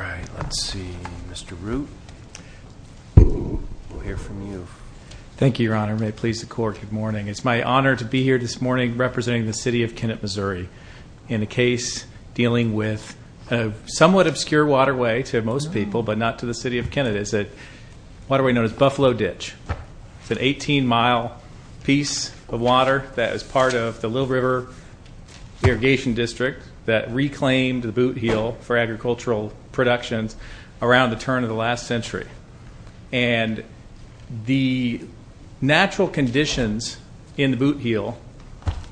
All right, let's see. Mr. Root, we'll hear from you. Thank you, Your Honor. May it please the Court, good morning. It's my honor to be here this morning representing the City of Kennett, MO in a case dealing with a somewhat obscure waterway to most people but not to the City of Kennett. It's a waterway known as Buffalo Ditch. It's an 18-mile piece of water that is part of the Little River Irrigation District that reclaimed the boot heel for agricultural productions around the turn of the last century. And the natural conditions in the boot heel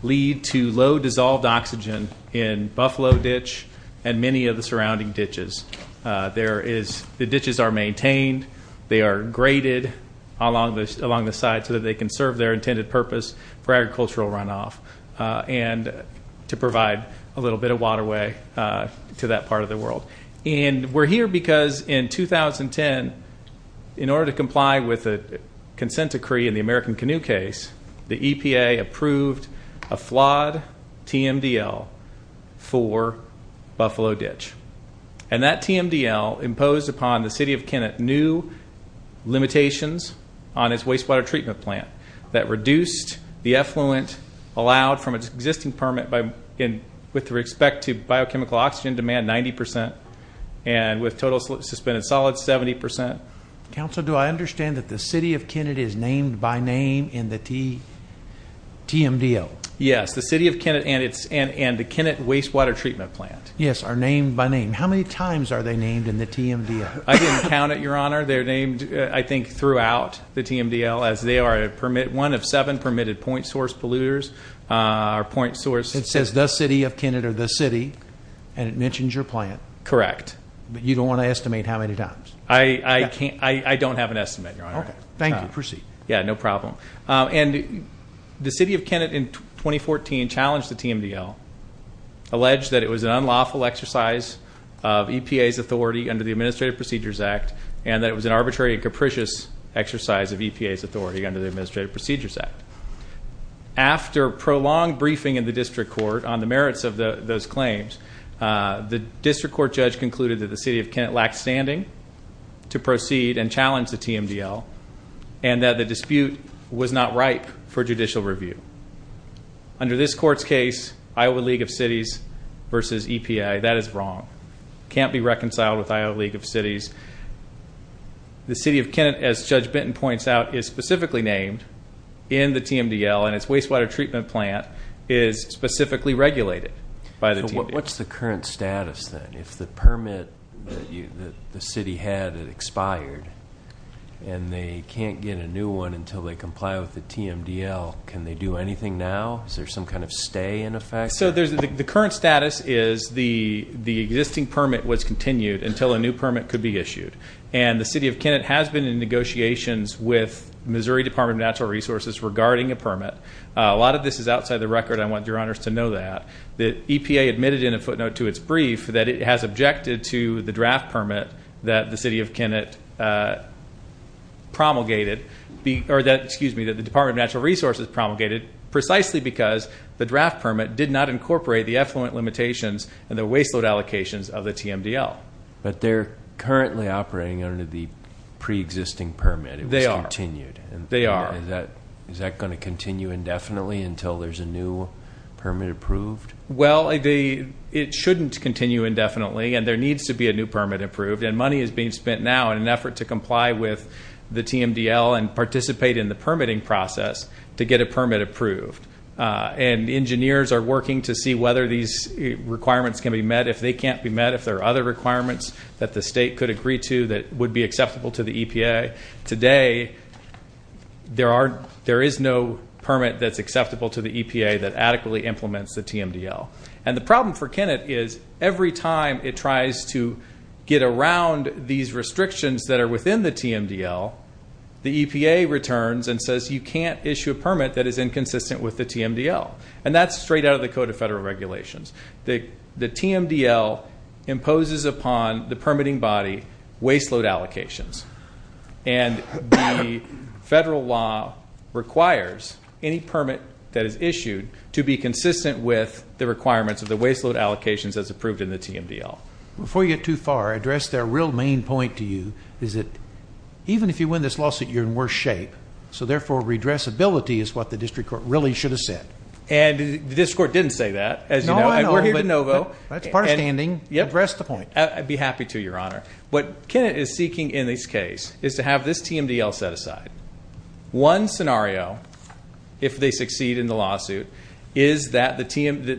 lead to low dissolved oxygen in Buffalo Ditch and many of the surrounding ditches. The ditches are maintained. They are graded along the side so that they can serve their intended purpose for agricultural runoff and to provide a little bit of waterway to that part of the world. And we're here because in 2010, in order to comply with a consent decree in the American Canoe Case, the EPA approved a flawed TMDL for Buffalo Ditch. And that TMDL imposed upon the City of Kennett new limitations on its wastewater treatment plant that reduced the effluent allowed from its existing permit with respect to biochemical oxygen demand 90% and with total suspended solids 70%. Counsel, do I understand that the City of Kennett is named by name in the TMDL? Yes, the City of Kennett and the Kennett Wastewater Treatment Plant. Yes, are named by name. How many times are they named in the TMDL? I didn't count it, Your Honor. They're named, I think, throughout the TMDL as they are one of seven permitted point source polluters or point source. It says the City of Kennett or the City, and it mentions your plant. Correct. But you don't want to estimate how many times. I don't have an estimate, Your Honor. Okay. Thank you. Proceed. Yeah, no problem. And the City of Kennett in 2014 challenged the TMDL, alleged that it was an unlawful exercise of EPA's authority under the Administrative Procedures Act and that it was an arbitrary and capricious exercise of EPA's authority under the Administrative Procedures Act. After prolonged briefing in the district court on the merits of those claims, the district court judge concluded that the City of Kennett lacked standing to proceed and challenge the TMDL and that the dispute was not ripe for judicial review. Under this court's case, Iowa League of Cities versus EPA, that is wrong. It can't be reconciled with Iowa League of Cities. The City of Kennett, as Judge Benton points out, is specifically named in the TMDL and its wastewater treatment plant is specifically regulated by the TMDL. So what's the current status then? If the permit that the city had had expired and they can't get a new one until they comply with the TMDL, can they do anything now? Is there some kind of stay in effect? So the current status is the existing permit was continued until a new permit could be issued. And the City of Kennett has been in negotiations with Missouri Department of Natural Resources regarding a permit. A lot of this is outside the record. I want your honors to know that. The EPA admitted in a footnote to its brief that it has objected to the draft permit that the City of Kennett promulgated that the Department of Natural Resources promulgated precisely because the draft permit did not incorporate the effluent limitations and the waste load allocations of the TMDL. But they're currently operating under the preexisting permit. They are. It was continued. They are. Is that going to continue indefinitely until there's a new permit approved? Well, it shouldn't continue indefinitely and there needs to be a new permit approved. And money is being spent now in an effort to comply with the TMDL and participate in the permitting process to get a permit approved. And engineers are working to see whether these requirements can be met. If they can't be met, if there are other requirements that the state could agree to that would be acceptable to the EPA. Today, there is no permit that's acceptable to the EPA that adequately implements the TMDL. And the problem for Kennett is every time it tries to get around these restrictions that are within the TMDL, the EPA returns and says you can't issue a permit that is inconsistent with the TMDL. And that's straight out of the Code of Federal Regulations. The TMDL imposes upon the permitting body waste load allocations. And the federal law requires any permit that is issued to be consistent with the requirements of the waste load allocations as approved in the TMDL. Before you get too far, I address their real main point to you, is that even if you win this lawsuit, you're in worse shape. So, therefore, redressability is what the district court really should have said. And the district court didn't say that. No, I know. We're here to know, though. That's part standing. Address the point. I'd be happy to, Your Honor. What Kennett is seeking in this case is to have this TMDL set aside. One scenario, if they succeed in the lawsuit, is that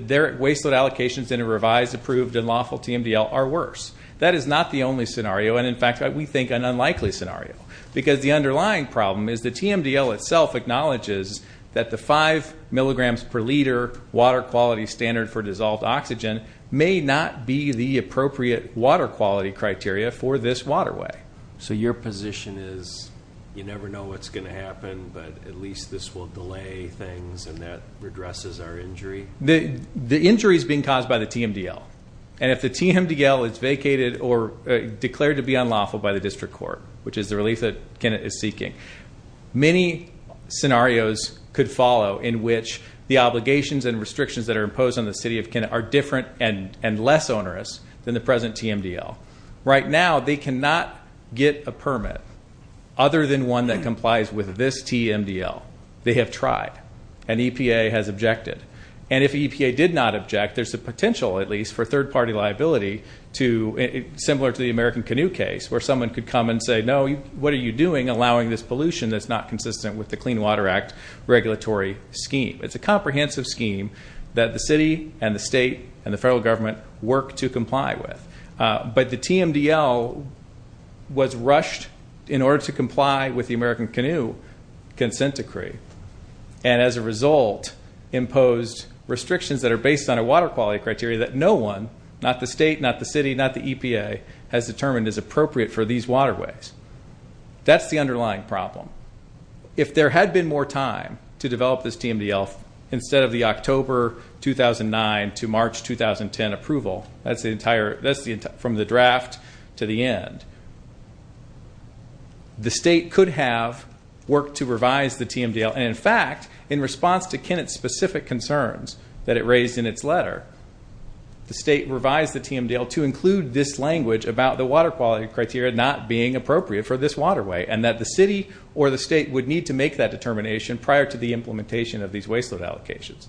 their waste load allocations in a revised, approved, and lawful TMDL are worse. That is not the only scenario. And, in fact, we think an unlikely scenario. Because the underlying problem is the TMDL itself acknowledges that the 5 milligrams per liter water quality standard for dissolved oxygen may not be the appropriate water quality criteria for this waterway. So your position is you never know what's going to happen, but at least this will delay things and that redresses our injury? The injury is being caused by the TMDL. And if the TMDL is vacated or declared to be unlawful by the district court, which is the relief that Kennett is seeking, many scenarios could follow in which the obligations and restrictions that are imposed on the city of Kennett are different and less onerous than the present TMDL. Right now, they cannot get a permit other than one that complies with this TMDL. They have tried, and EPA has objected. And if EPA did not object, there's a potential, at least, for third-party liability, similar to the American Canoe case, where someone could come and say, no, what are you doing allowing this pollution that's not consistent with the Clean Water Act regulatory scheme. It's a comprehensive scheme that the city and the state and the federal government work to comply with. But the TMDL was rushed in order to comply with the American Canoe consent decree, and as a result imposed restrictions that are based on a water quality criteria that no one, not the state, not the city, not the EPA, has determined is appropriate for these waterways. That's the underlying problem. If there had been more time to develop this TMDL instead of the October 2009 to March 2010 approval, that's from the draft to the end, the state could have worked to revise the TMDL. And in fact, in response to Kennett's specific concerns that it raised in its letter, the state revised the TMDL to include this language about the water quality criteria not being appropriate for this waterway, and that the city or the state would need to make that determination prior to the implementation of these waste load allocations.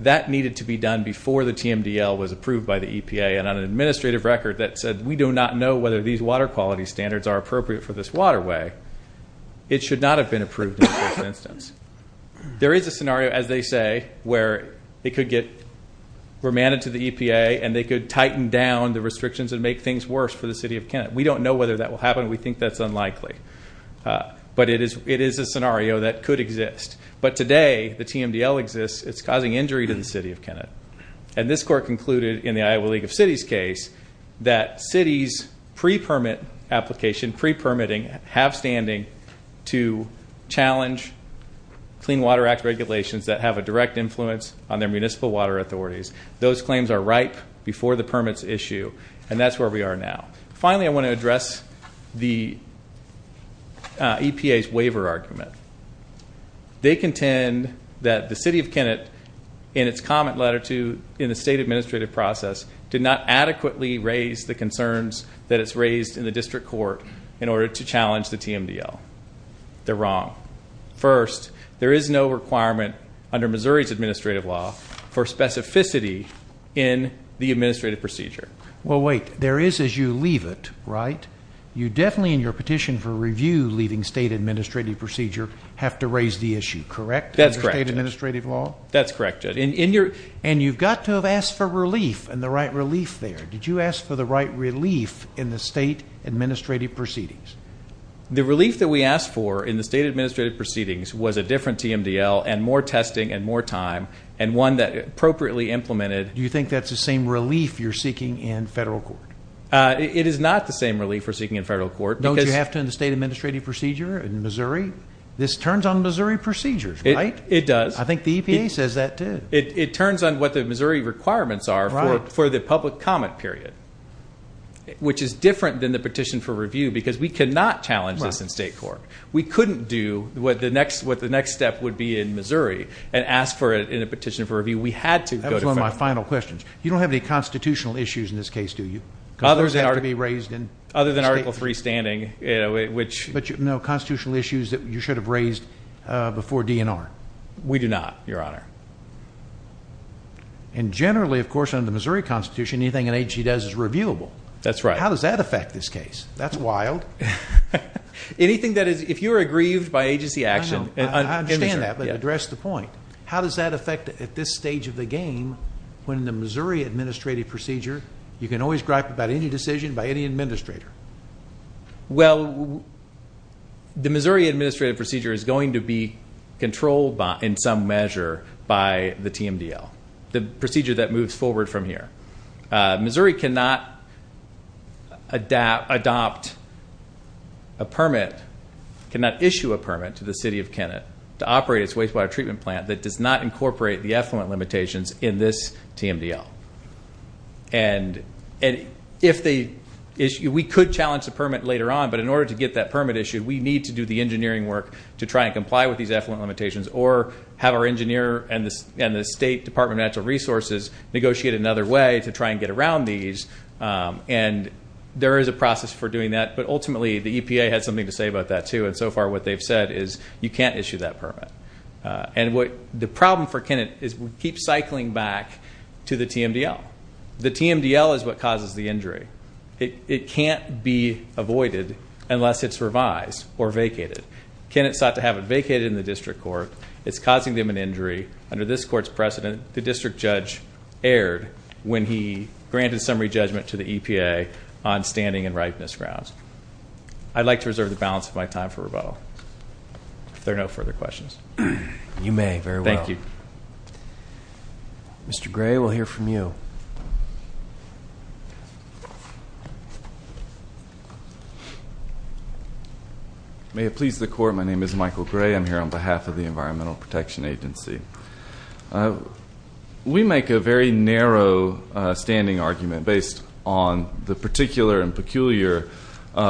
That needed to be done before the TMDL was approved by the EPA, and on an administrative record that said we do not know whether these water quality standards are appropriate for this waterway, it should not have been approved in the first instance. There is a scenario, as they say, where it could get remanded to the EPA and they could tighten down the restrictions and make things worse for the city of Kennett. We don't know whether that will happen. We think that's unlikely. But it is a scenario that could exist. But today, the TMDL exists. It's causing injury to the city of Kennett. And this court concluded in the Iowa League of Cities case that cities pre-permit application, pre-permitting, have standing to challenge Clean Water Act regulations that have a direct influence on their municipal water authorities. Those claims are ripe before the permits issue, and that's where we are now. Finally, I want to address the EPA's waiver argument. They contend that the city of Kennett, in its comment letter to the state administrative process, did not adequately raise the concerns that it's raised in the district court in order to challenge the TMDL. They're wrong. First, there is no requirement under Missouri's administrative law for specificity in the administrative procedure. Well, wait. There is as you leave it, right? You definitely, in your petition for review leaving state administrative procedure, have to raise the issue, correct? Under state administrative law? That's correct, Judge. And you've got to have asked for relief and the right relief there. Did you ask for the right relief in the state administrative proceedings? The relief that we asked for in the state administrative proceedings was a different TMDL and more testing and more time, and one that appropriately implemented. Do you think that's the same relief you're seeking in federal court? It is not the same relief we're seeking in federal court. Don't you have to in the state administrative procedure in Missouri? This turns on Missouri procedures, right? It does. I think the EPA says that, too. It turns on what the Missouri requirements are for the public comment period, which is different than the petition for review because we cannot challenge this in state court. We couldn't do what the next step would be in Missouri and ask for it in a petition for review. We had to go to federal court. That was one of my final questions. You don't have any constitutional issues in this case, do you? Because those have to be raised in state court. Other than Article III standing. No, constitutional issues that you should have raised before DNR. We do not, Your Honor. And generally, of course, under the Missouri Constitution, anything an agency does is reviewable. That's right. How does that affect this case? That's wild. Anything that is, if you're aggrieved by agency action in Missouri. I understand that, but address the point. How does that affect at this stage of the game when the Missouri administrative procedure, you can always gripe about any decision by any administrator? Well, the Missouri administrative procedure is going to be controlled in some measure by the TMDL, the procedure that moves forward from here. Missouri cannot adopt a permit, cannot issue a permit to the City of Kennet to operate its wastewater treatment plant that does not incorporate the effluent limitations in this TMDL. And we could challenge the permit later on, but in order to get that permit issued, we need to do the engineering work to try and comply with these effluent limitations or have our engineer and the State Department of Natural Resources negotiate another way to try and get around these. And there is a process for doing that, but ultimately the EPA has something to say about that, too. And so far what they've said is you can't issue that permit. And the problem for Kennet is we keep cycling back to the TMDL. The TMDL is what causes the injury. It can't be avoided unless it's revised or vacated. Kennet sought to have it vacated in the district court. It's causing them an injury. Under this court's precedent, the district judge erred when he granted summary judgment to the EPA on standing and ripeness grounds. I'd like to reserve the balance of my time for rebuttal. If there are no further questions. You may, very well. Thank you. Mr. Gray, we'll hear from you. May it please the Court, my name is Michael Gray. I'm here on behalf of the Environmental Protection Agency. We make a very narrow standing argument based on the particular and peculiar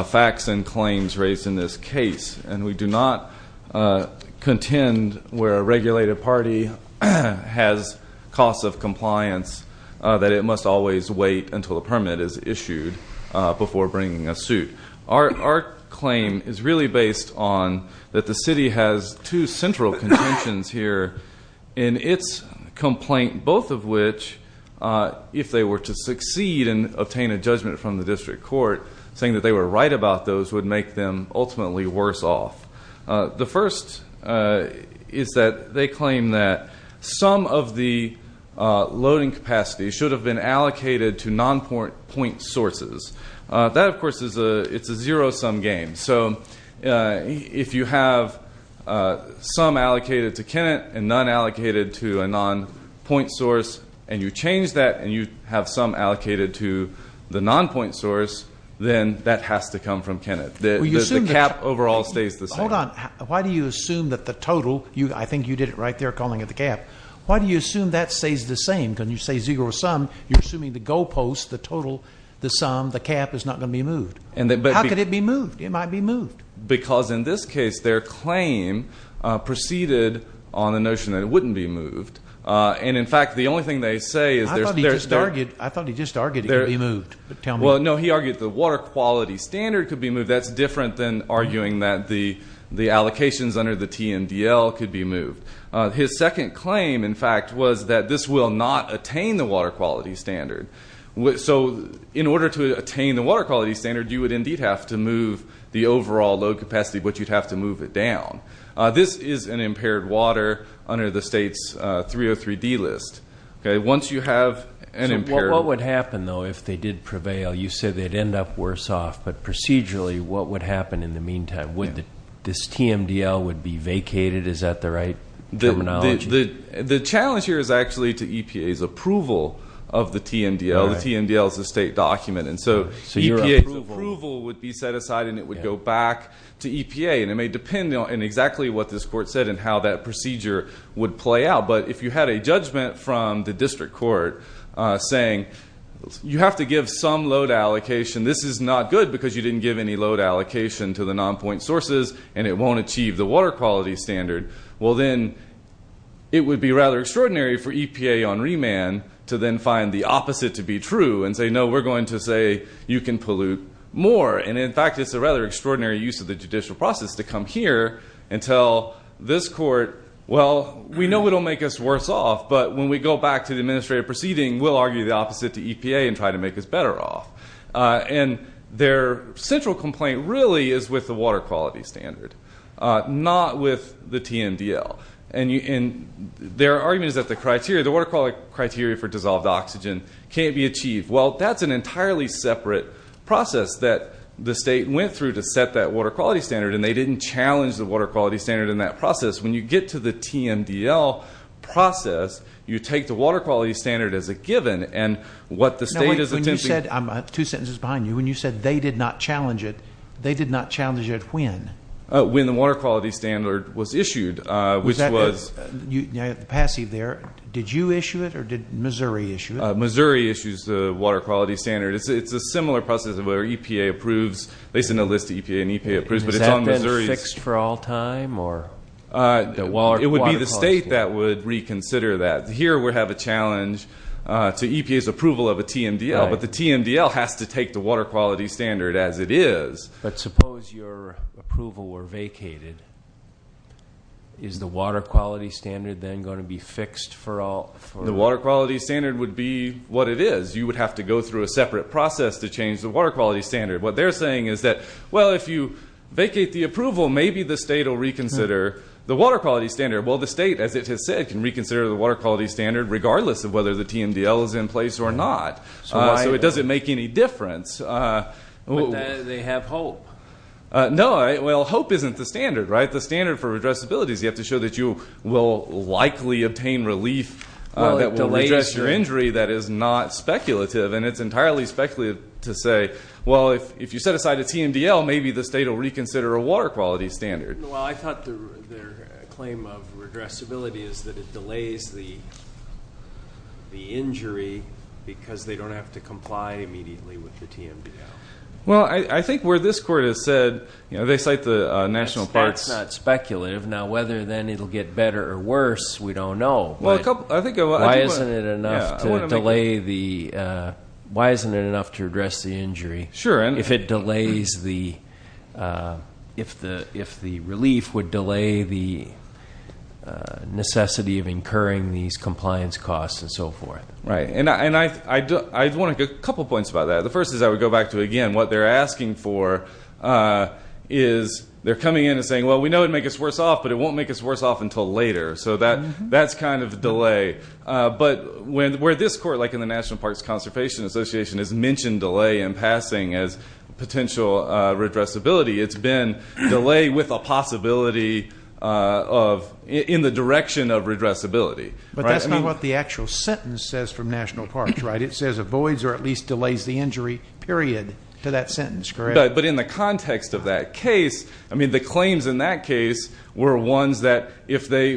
facts and claims raised in this case, and we do not contend where a regulated party has costs of compliance, that it must always wait until the permit is issued before bringing a suit. Our claim is really based on that the city has two central conventions here in its complaint, both of which, if they were to succeed and obtain a judgment from the district court, saying that they were right about those would make them ultimately worse off. The first is that they claim that some of the loading capacity should have been allocated to non-point sources. That, of course, is a zero-sum game. So if you have some allocated to Kennett and none allocated to a non-point source, and you change that and you have some allocated to the non-point source, then that has to come from Kennett. The cap overall stays the same. Hold on. Why do you assume that the total, I think you did it right there, calling it the cap. Why do you assume that stays the same? Because you say zero-sum, you're assuming the goal post, the total, the sum, the cap is not going to be moved. How could it be moved? It might be moved. Because in this case, their claim preceded on the notion that it wouldn't be moved. And, in fact, the only thing they say is there's not. I thought he just argued it could be moved. Well, no, he argued the water quality standard could be moved. That's different than arguing that the allocations under the TMDL could be moved. His second claim, in fact, was that this will not attain the water quality standard. So in order to attain the water quality standard, you would indeed have to move the overall load capacity, but you'd have to move it down. This is an impaired water under the state's 303D list. Once you have an impaired one. What would happen, though, if they did prevail? You said they'd end up worse off, but procedurally, what would happen in the meantime? Would this TMDL would be vacated? Is that the right terminology? The challenge here is actually to EPA's approval of the TMDL. The TMDL is a state document. And so EPA's approval would be set aside and it would go back to EPA. And it may depend on exactly what this court said and how that procedure would play out. But if you had a judgment from the district court saying you have to give some load allocation, this is not good because you didn't give any load allocation to the non-point sources and it won't achieve the water quality standard. Well, then it would be rather extraordinary for EPA on remand to then find the opposite to be true and say, no, we're going to say you can pollute more. And, in fact, it's a rather extraordinary use of the judicial process to come here and tell this court, well, we know it will make us worse off, but when we go back to the administrative proceeding, we'll argue the opposite to EPA and try to make us better off. And their central complaint really is with the water quality standard, not with the TMDL. And their argument is that the water quality criteria for dissolved oxygen can't be achieved. Well, that's an entirely separate process that the state went through to set that water quality standard, and they didn't challenge the water quality standard in that process. When you get to the TMDL process, you take the water quality standard as a given. And what the state is attempting to do. Two sentences behind you. When you said they did not challenge it, they did not challenge it when? When the water quality standard was issued, which was. Passive there. Did you issue it or did Missouri issue it? Missouri issues the water quality standard. It's a similar process where EPA approves. They send a list to EPA and EPA approves, but it's on Missouri's. Is that then fixed for all time? It would be the state that would reconsider that. Here we have a challenge to EPA's approval of a TMDL, but the TMDL has to take the water quality standard as it is. But suppose your approval were vacated. Is the water quality standard then going to be fixed for all? The water quality standard would be what it is. You would have to go through a separate process to change the water quality standard. What they're saying is that, well, if you vacate the approval, maybe the state will reconsider the water quality standard. Well, the state, as it has said, can reconsider the water quality standard, regardless of whether the TMDL is in place or not. So it doesn't make any difference. But then they have hope. No. Well, hope isn't the standard, right? The standard for addressability is you have to show that you will likely obtain relief that will redress your injury that is not speculative. And it's entirely speculative to say, well, if you set aside a TMDL, maybe the state will reconsider a water quality standard. Well, I thought their claim of redressability is that it delays the injury because they don't have to comply immediately with the TMDL. Well, I think where this Court has said, you know, they cite the National Parks. That's not speculative. Now, whether then it will get better or worse, we don't know. Why isn't it enough to delay the – why isn't it enough to redress the injury if it delays the – if the relief would delay the necessity of incurring these compliance costs and so forth? Right. And I want to get a couple points about that. The first is I would go back to, again, what they're asking for is they're coming in and saying, well, we know it would make us worse off, but it won't make us worse off until later. So that's kind of a delay. But where this Court, like in the National Parks Conservation Association, has mentioned delay in passing as potential redressability, it's been delay with a possibility of – in the direction of redressability. But that's not what the actual sentence says from National Parks, right? It says avoids or at least delays the injury, period, to that sentence, correct? But in the context of that case, I mean, the claims in that case were ones that, if they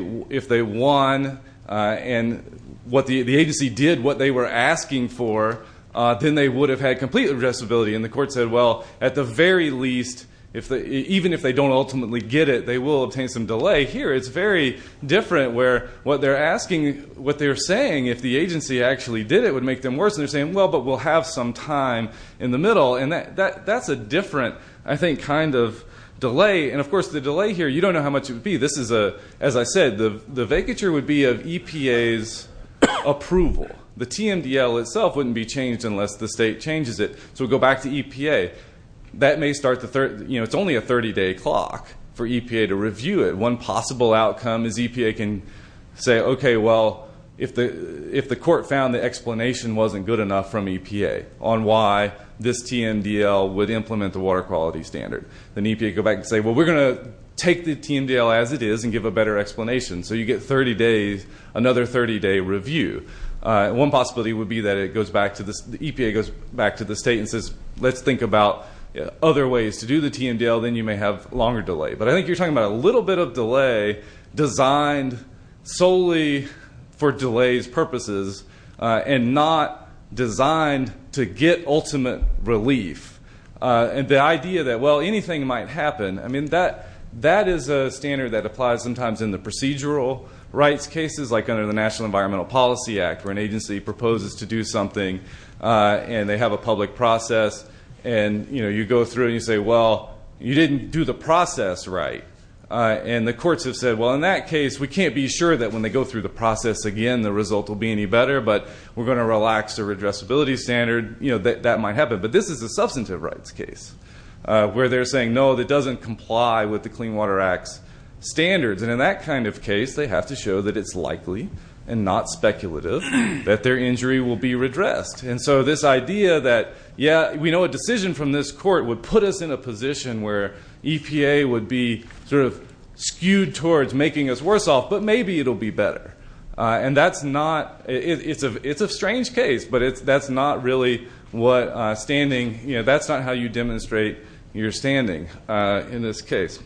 won and what the agency did, what they were asking for, then they would have had complete redressability. And the Court said, well, at the very least, even if they don't ultimately get it, they will obtain some delay. Here it's very different where what they're asking, what they're saying, if the agency actually did it, it would make them worse. And they're saying, well, but we'll have some time in the middle. And that's a different, I think, kind of delay. And, of course, the delay here, you don't know how much it would be. This is a – as I said, the vacature would be of EPA's approval. The TMDL itself wouldn't be changed unless the state changes it. So we go back to EPA. That may start the – you know, it's only a 30-day clock for EPA to review it. One possible outcome is EPA can say, okay, well, if the Court found the explanation wasn't good enough from EPA on why this TMDL would implement the water quality standard, then EPA would go back and say, well, we're going to take the TMDL as it is and give a better explanation. So you get 30 days, another 30-day review. One possibility would be that it goes back to the – EPA goes back to the state and says, let's think about other ways to do the TMDL. Then you may have longer delay. But I think you're talking about a little bit of delay designed solely for delays purposes and not designed to get ultimate relief. The idea that, well, anything might happen. I mean, that is a standard that applies sometimes in the procedural rights cases like under the National Environmental Policy Act where an agency proposes to do something and they have a public process. And, you know, you go through and you say, well, you didn't do the process right. And the courts have said, well, in that case, we can't be sure that when they go through the process again the result will be any better, but we're going to relax the redressability standard. That might happen. But this is a substantive rights case where they're saying, no, that doesn't comply with the Clean Water Act's standards. And in that kind of case, they have to show that it's likely and not speculative that their injury will be redressed. And so this idea that, yeah, we know a decision from this court would put us in a position where EPA would be sort of skewed towards making us worse off, but maybe it will be better. And that's not – it's a strange case, but that's not really what standing – that's not how you demonstrate your standing in this case.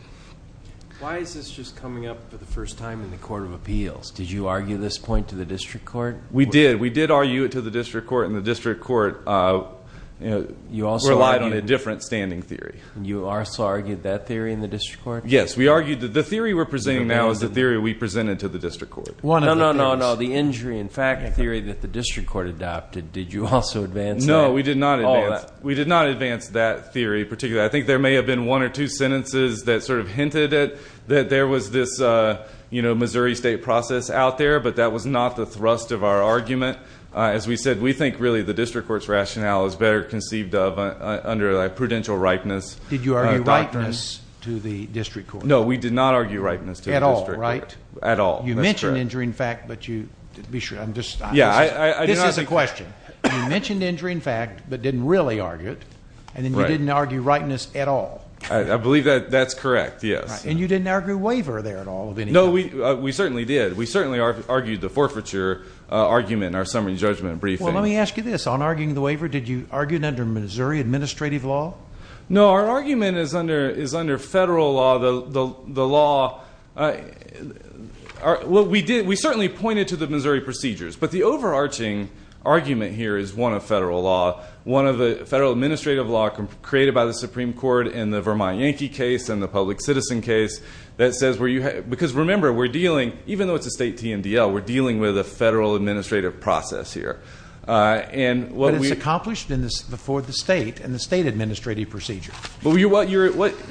Why is this just coming up for the first time in the Court of Appeals? Did you argue this point to the district court? We did. We did argue it to the district court, and the district court relied on a different standing theory. You also argued that theory in the district court? Yes. We argued that the theory we're presenting now is the theory we presented to the district court. No, no, no, no. The injury in fact theory that the district court adopted, did you also advance that? No, we did not advance that theory particularly. I think there may have been one or two sentences that sort of hinted at – that there was this Missouri State process out there, but that was not the thrust of our argument. As we said, we think really the district court's rationale is better conceived of under a prudential ripeness doctrine. No, we did not argue ripeness to the district court. At all, right? At all. You mentioned injury in fact, but you – I'm just – this is a question. You mentioned injury in fact, but didn't really argue it, and then you didn't argue ripeness at all. I believe that that's correct, yes. And you didn't argue waiver there at all? No, we certainly did. We certainly argued the forfeiture argument in our summary judgment briefing. Well, let me ask you this. On arguing the waiver, did you argue it under Missouri administrative law? No, our argument is under federal law. The law – well, we did – we certainly pointed to the Missouri procedures, but the overarching argument here is one of federal law, one of the federal administrative law created by the Supreme Court in the Vermont Yankee case and the public citizen case that says where you – because remember, we're dealing – even though it's a state TNDL, we're dealing with a federal administrative process here. But it's accomplished before the state and the state administrative procedure.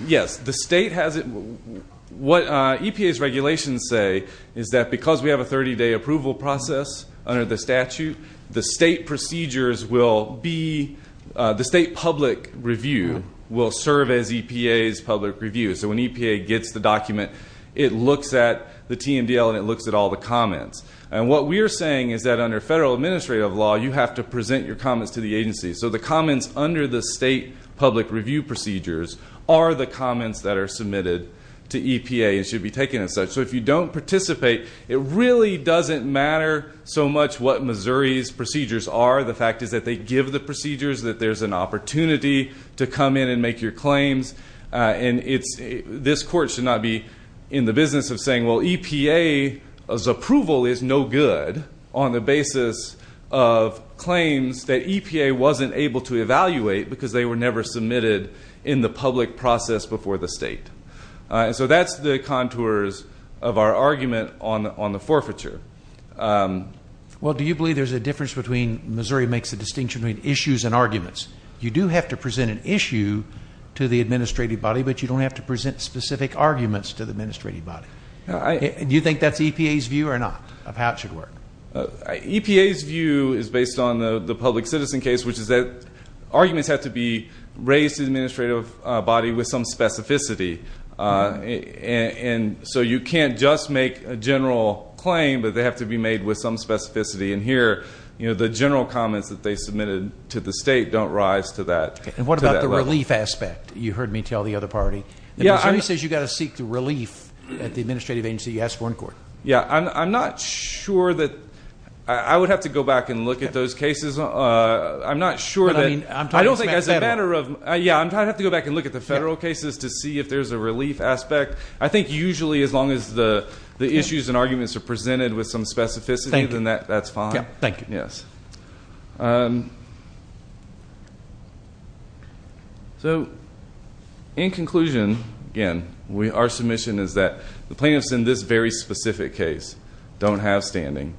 Yes. The state has – what EPA's regulations say is that because we have a 30-day approval process under the statute, the state procedures will be – the state public review will serve as EPA's public review. So when EPA gets the document, it looks at the TNDL and it looks at all the comments. And what we're saying is that under federal administrative law, you have to present your comments to the agency. So the comments under the state public review procedures are the comments that are submitted to EPA and should be taken as such. So if you don't participate, it really doesn't matter so much what Missouri's procedures are. The fact is that they give the procedures, that there's an opportunity to come in and make your claims. And it's – this court should not be in the business of saying, well, EPA's approval is no good on the basis of claims that EPA wasn't able to evaluate because they were never submitted in the public process before the state. And so that's the contours of our argument on the forfeiture. Well, do you believe there's a difference between – Missouri makes a distinction between issues and arguments. You do have to present an issue to the administrative body, but you don't have to present specific arguments to the administrative body. Do you think that's EPA's view or not of how it should work? EPA's view is based on the public citizen case, which is that arguments have to be raised to the administrative body with some specificity. And so you can't just make a general claim, but they have to be made with some specificity. And here, you know, the general comments that they submitted to the state don't rise to that level. And what about the relief aspect? You heard me tell the other party. Yeah, I'm – Missouri says you've got to seek the relief at the administrative agency you ask for in court. Yeah, I'm not sure that – I would have to go back and look at those cases. I'm not sure that – But, I mean, I'm talking about federal. I don't think as a matter of – yeah, I'm going to have to go back and look at the federal cases to see if there's a relief aspect. I think usually as long as the issues and arguments are presented with some specificity, then that's fine. Yeah, thank you. Yes. So, in conclusion, again, our submission is that the plaintiffs in this very specific case don't have standing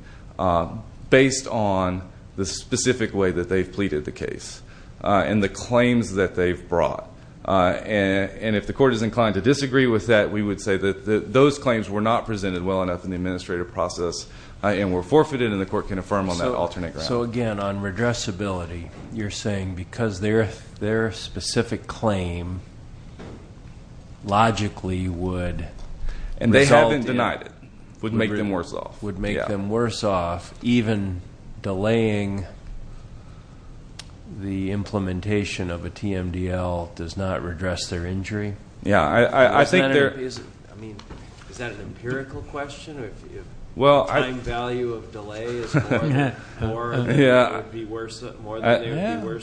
based on the specific way that they've pleaded the case and the claims that they've brought. And if the court is inclined to disagree with that, we would say that those claims were not presented well enough in the administrative process and were forfeited and the court can affirm on that alternate ground. So, again, on redressability, you're saying because their specific claim logically would result in – And they have been denied it. Would make them worse off. Even delaying the implementation of a TMDL does not redress their injury? Yeah, I think there – I mean, is that an empirical question? Well, I – Time value of delay is more than they would be worse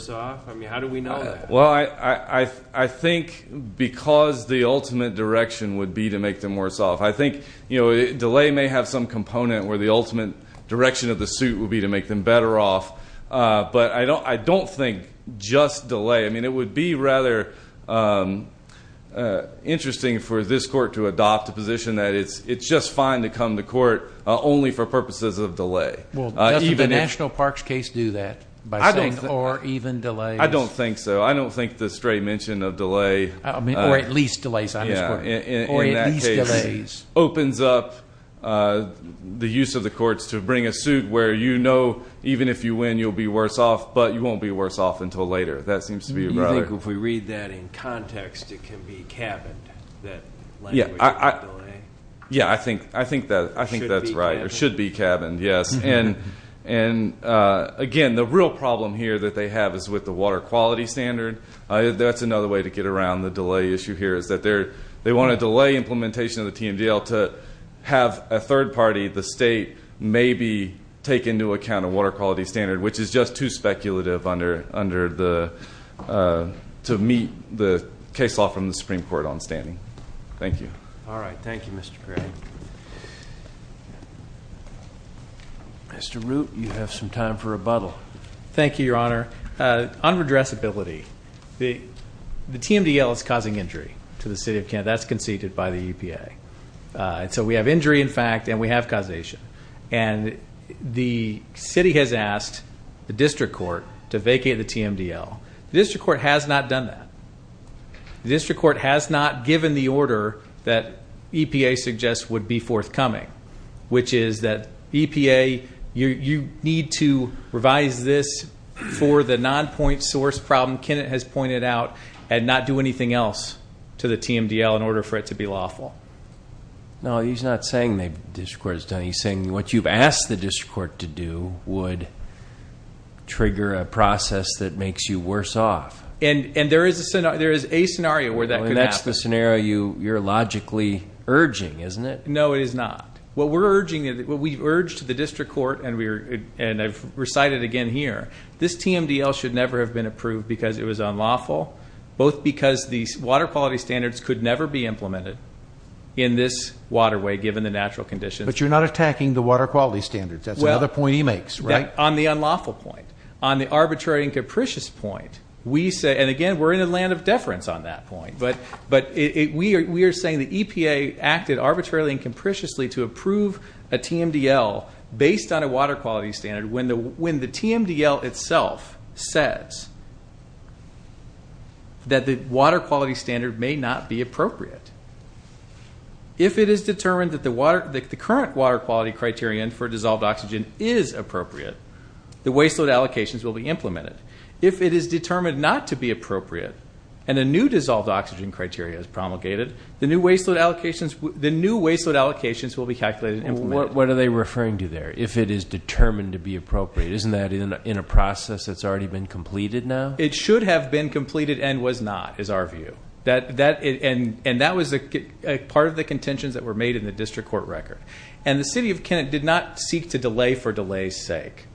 off? I mean, how do we know that? Well, I think because the ultimate direction would be to make them worse off. I think delay may have some component where the ultimate direction of the suit would be to make them better off. But I don't think just delay – I mean, it would be rather interesting for this court to adopt a position that it's just fine to come to court only for purposes of delay. Well, doesn't the National Parks case do that by saying or even delays? I don't think so. I don't think the straight mention of delay – Or at least delays on this court. Or at least delays. Opens up the use of the courts to bring a suit where you know even if you win, you'll be worse off, but you won't be worse off until later. That seems to be right. You think if we read that in context, it can be cabined, that language of delay? Yeah, I think that's right. It should be cabined. It should be cabined, yes. And, again, the real problem here that they have is with the water quality standard. That's another way to get around the delay issue here is that they want to delay implementation of the TMDL to have a third party, the state, maybe take into account a water quality standard, which is just too speculative to meet the case law from the Supreme Court on standing. Thank you. All right. Thank you, Mr. Perry. Mr. Root, you have some time for rebuttal. Thank you, Your Honor. On redressability, the TMDL is causing injury to the city of Kent. That's conceded by the EPA. So we have injury, in fact, and we have causation. And the city has asked the district court to vacate the TMDL. The district court has not done that. The district court has not given the order that EPA suggests would be forthcoming, which is that EPA, you need to revise this for the non-point source problem Kenneth has pointed out and not do anything else to the TMDL in order for it to be lawful. No, he's not saying the district court has done it. He's saying what you've asked the district court to do would trigger a process that makes you worse off. And there is a scenario where that could happen. That's the scenario you're logically urging, isn't it? No, it is not. What we've urged the district court, and I've recited it again here, this TMDL should never have been approved because it was unlawful, both because the water quality standards could never be implemented in this waterway given the natural conditions. But you're not attacking the water quality standards. That's another point he makes, right? On the unlawful point. On the arbitrary and capricious point, we say, and again, we're in a land of deference on that point. We are saying the EPA acted arbitrarily and capriciously to approve a TMDL based on a water quality standard when the TMDL itself says that the water quality standard may not be appropriate. If it is determined that the current water quality criterion for dissolved oxygen is appropriate, the waste load allocations will be implemented. If it is determined not to be appropriate and a new dissolved oxygen criteria is promulgated, the new waste load allocations will be calculated and implemented. What are they referring to there, if it is determined to be appropriate? Isn't that in a process that's already been completed now? It should have been completed and was not, is our view. And that was part of the contentions that were made in the district court record. And the city of Kennett did not seek to delay for delay's sake.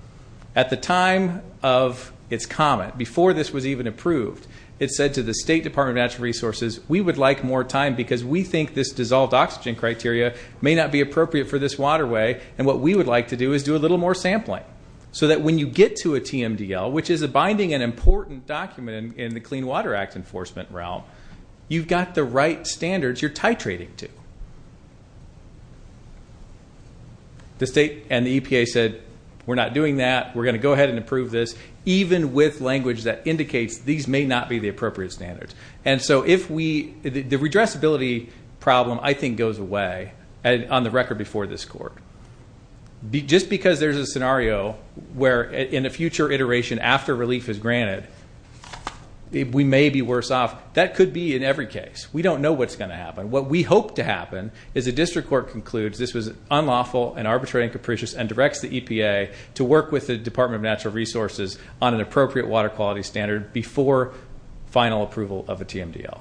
At the time of its comment, before this was even approved, it said to the State Department of Natural Resources, we would like more time because we think this dissolved oxygen criteria may not be appropriate for this waterway, and what we would like to do is do a little more sampling so that when you get to a TMDL, which is a binding and important document in the Clean Water Act enforcement realm, you've got the right standards you're titrating to. The state and the EPA said, we're not doing that, we're going to go ahead and approve this, even with language that indicates these may not be the appropriate standards. And so if we, the redressability problem I think goes away on the record before this court. Just because there's a scenario where in a future iteration after relief is granted, we may be worse off. That could be in every case. We don't know what's going to happen. What we hope to happen is the district court concludes this was unlawful and arbitrary and capricious and directs the EPA to work with the Department of Natural Resources on an appropriate water quality standard before final approval of a TMDL.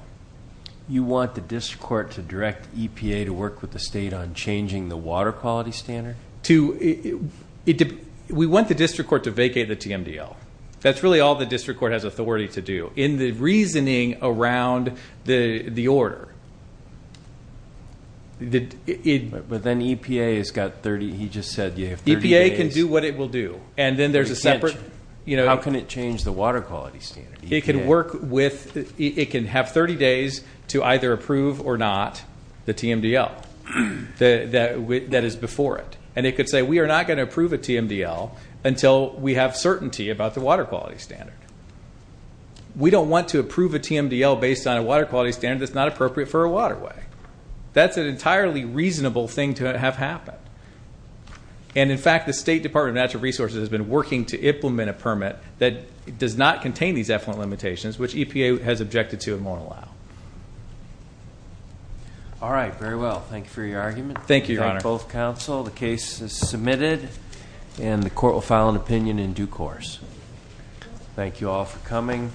You want the district court to direct EPA to work with the state on changing the water quality standard? We want the district court to vacate the TMDL. That's really all the district court has authority to do. In the reasoning around the order. But then EPA has got 30, he just said you have 30 days. EPA can do what it will do. And then there's a separate, you know. How can it change the water quality standard? It can work with, it can have 30 days to either approve or not the TMDL that is before it. And it could say we are not going to approve a TMDL until we have certainty about the water quality standard. We don't want to approve a TMDL based on a water quality standard that's not appropriate for a waterway. That's an entirely reasonable thing to have happen. And, in fact, the State Department of Natural Resources has been working to implement a permit that does not contain these effluent limitations, which EPA has objected to and won't allow. All right. Very well. Thank you for your argument. Thank you, Your Honor. Thank both counsel. The case is submitted. And the court will file an opinion in due course. Thank you all for coming.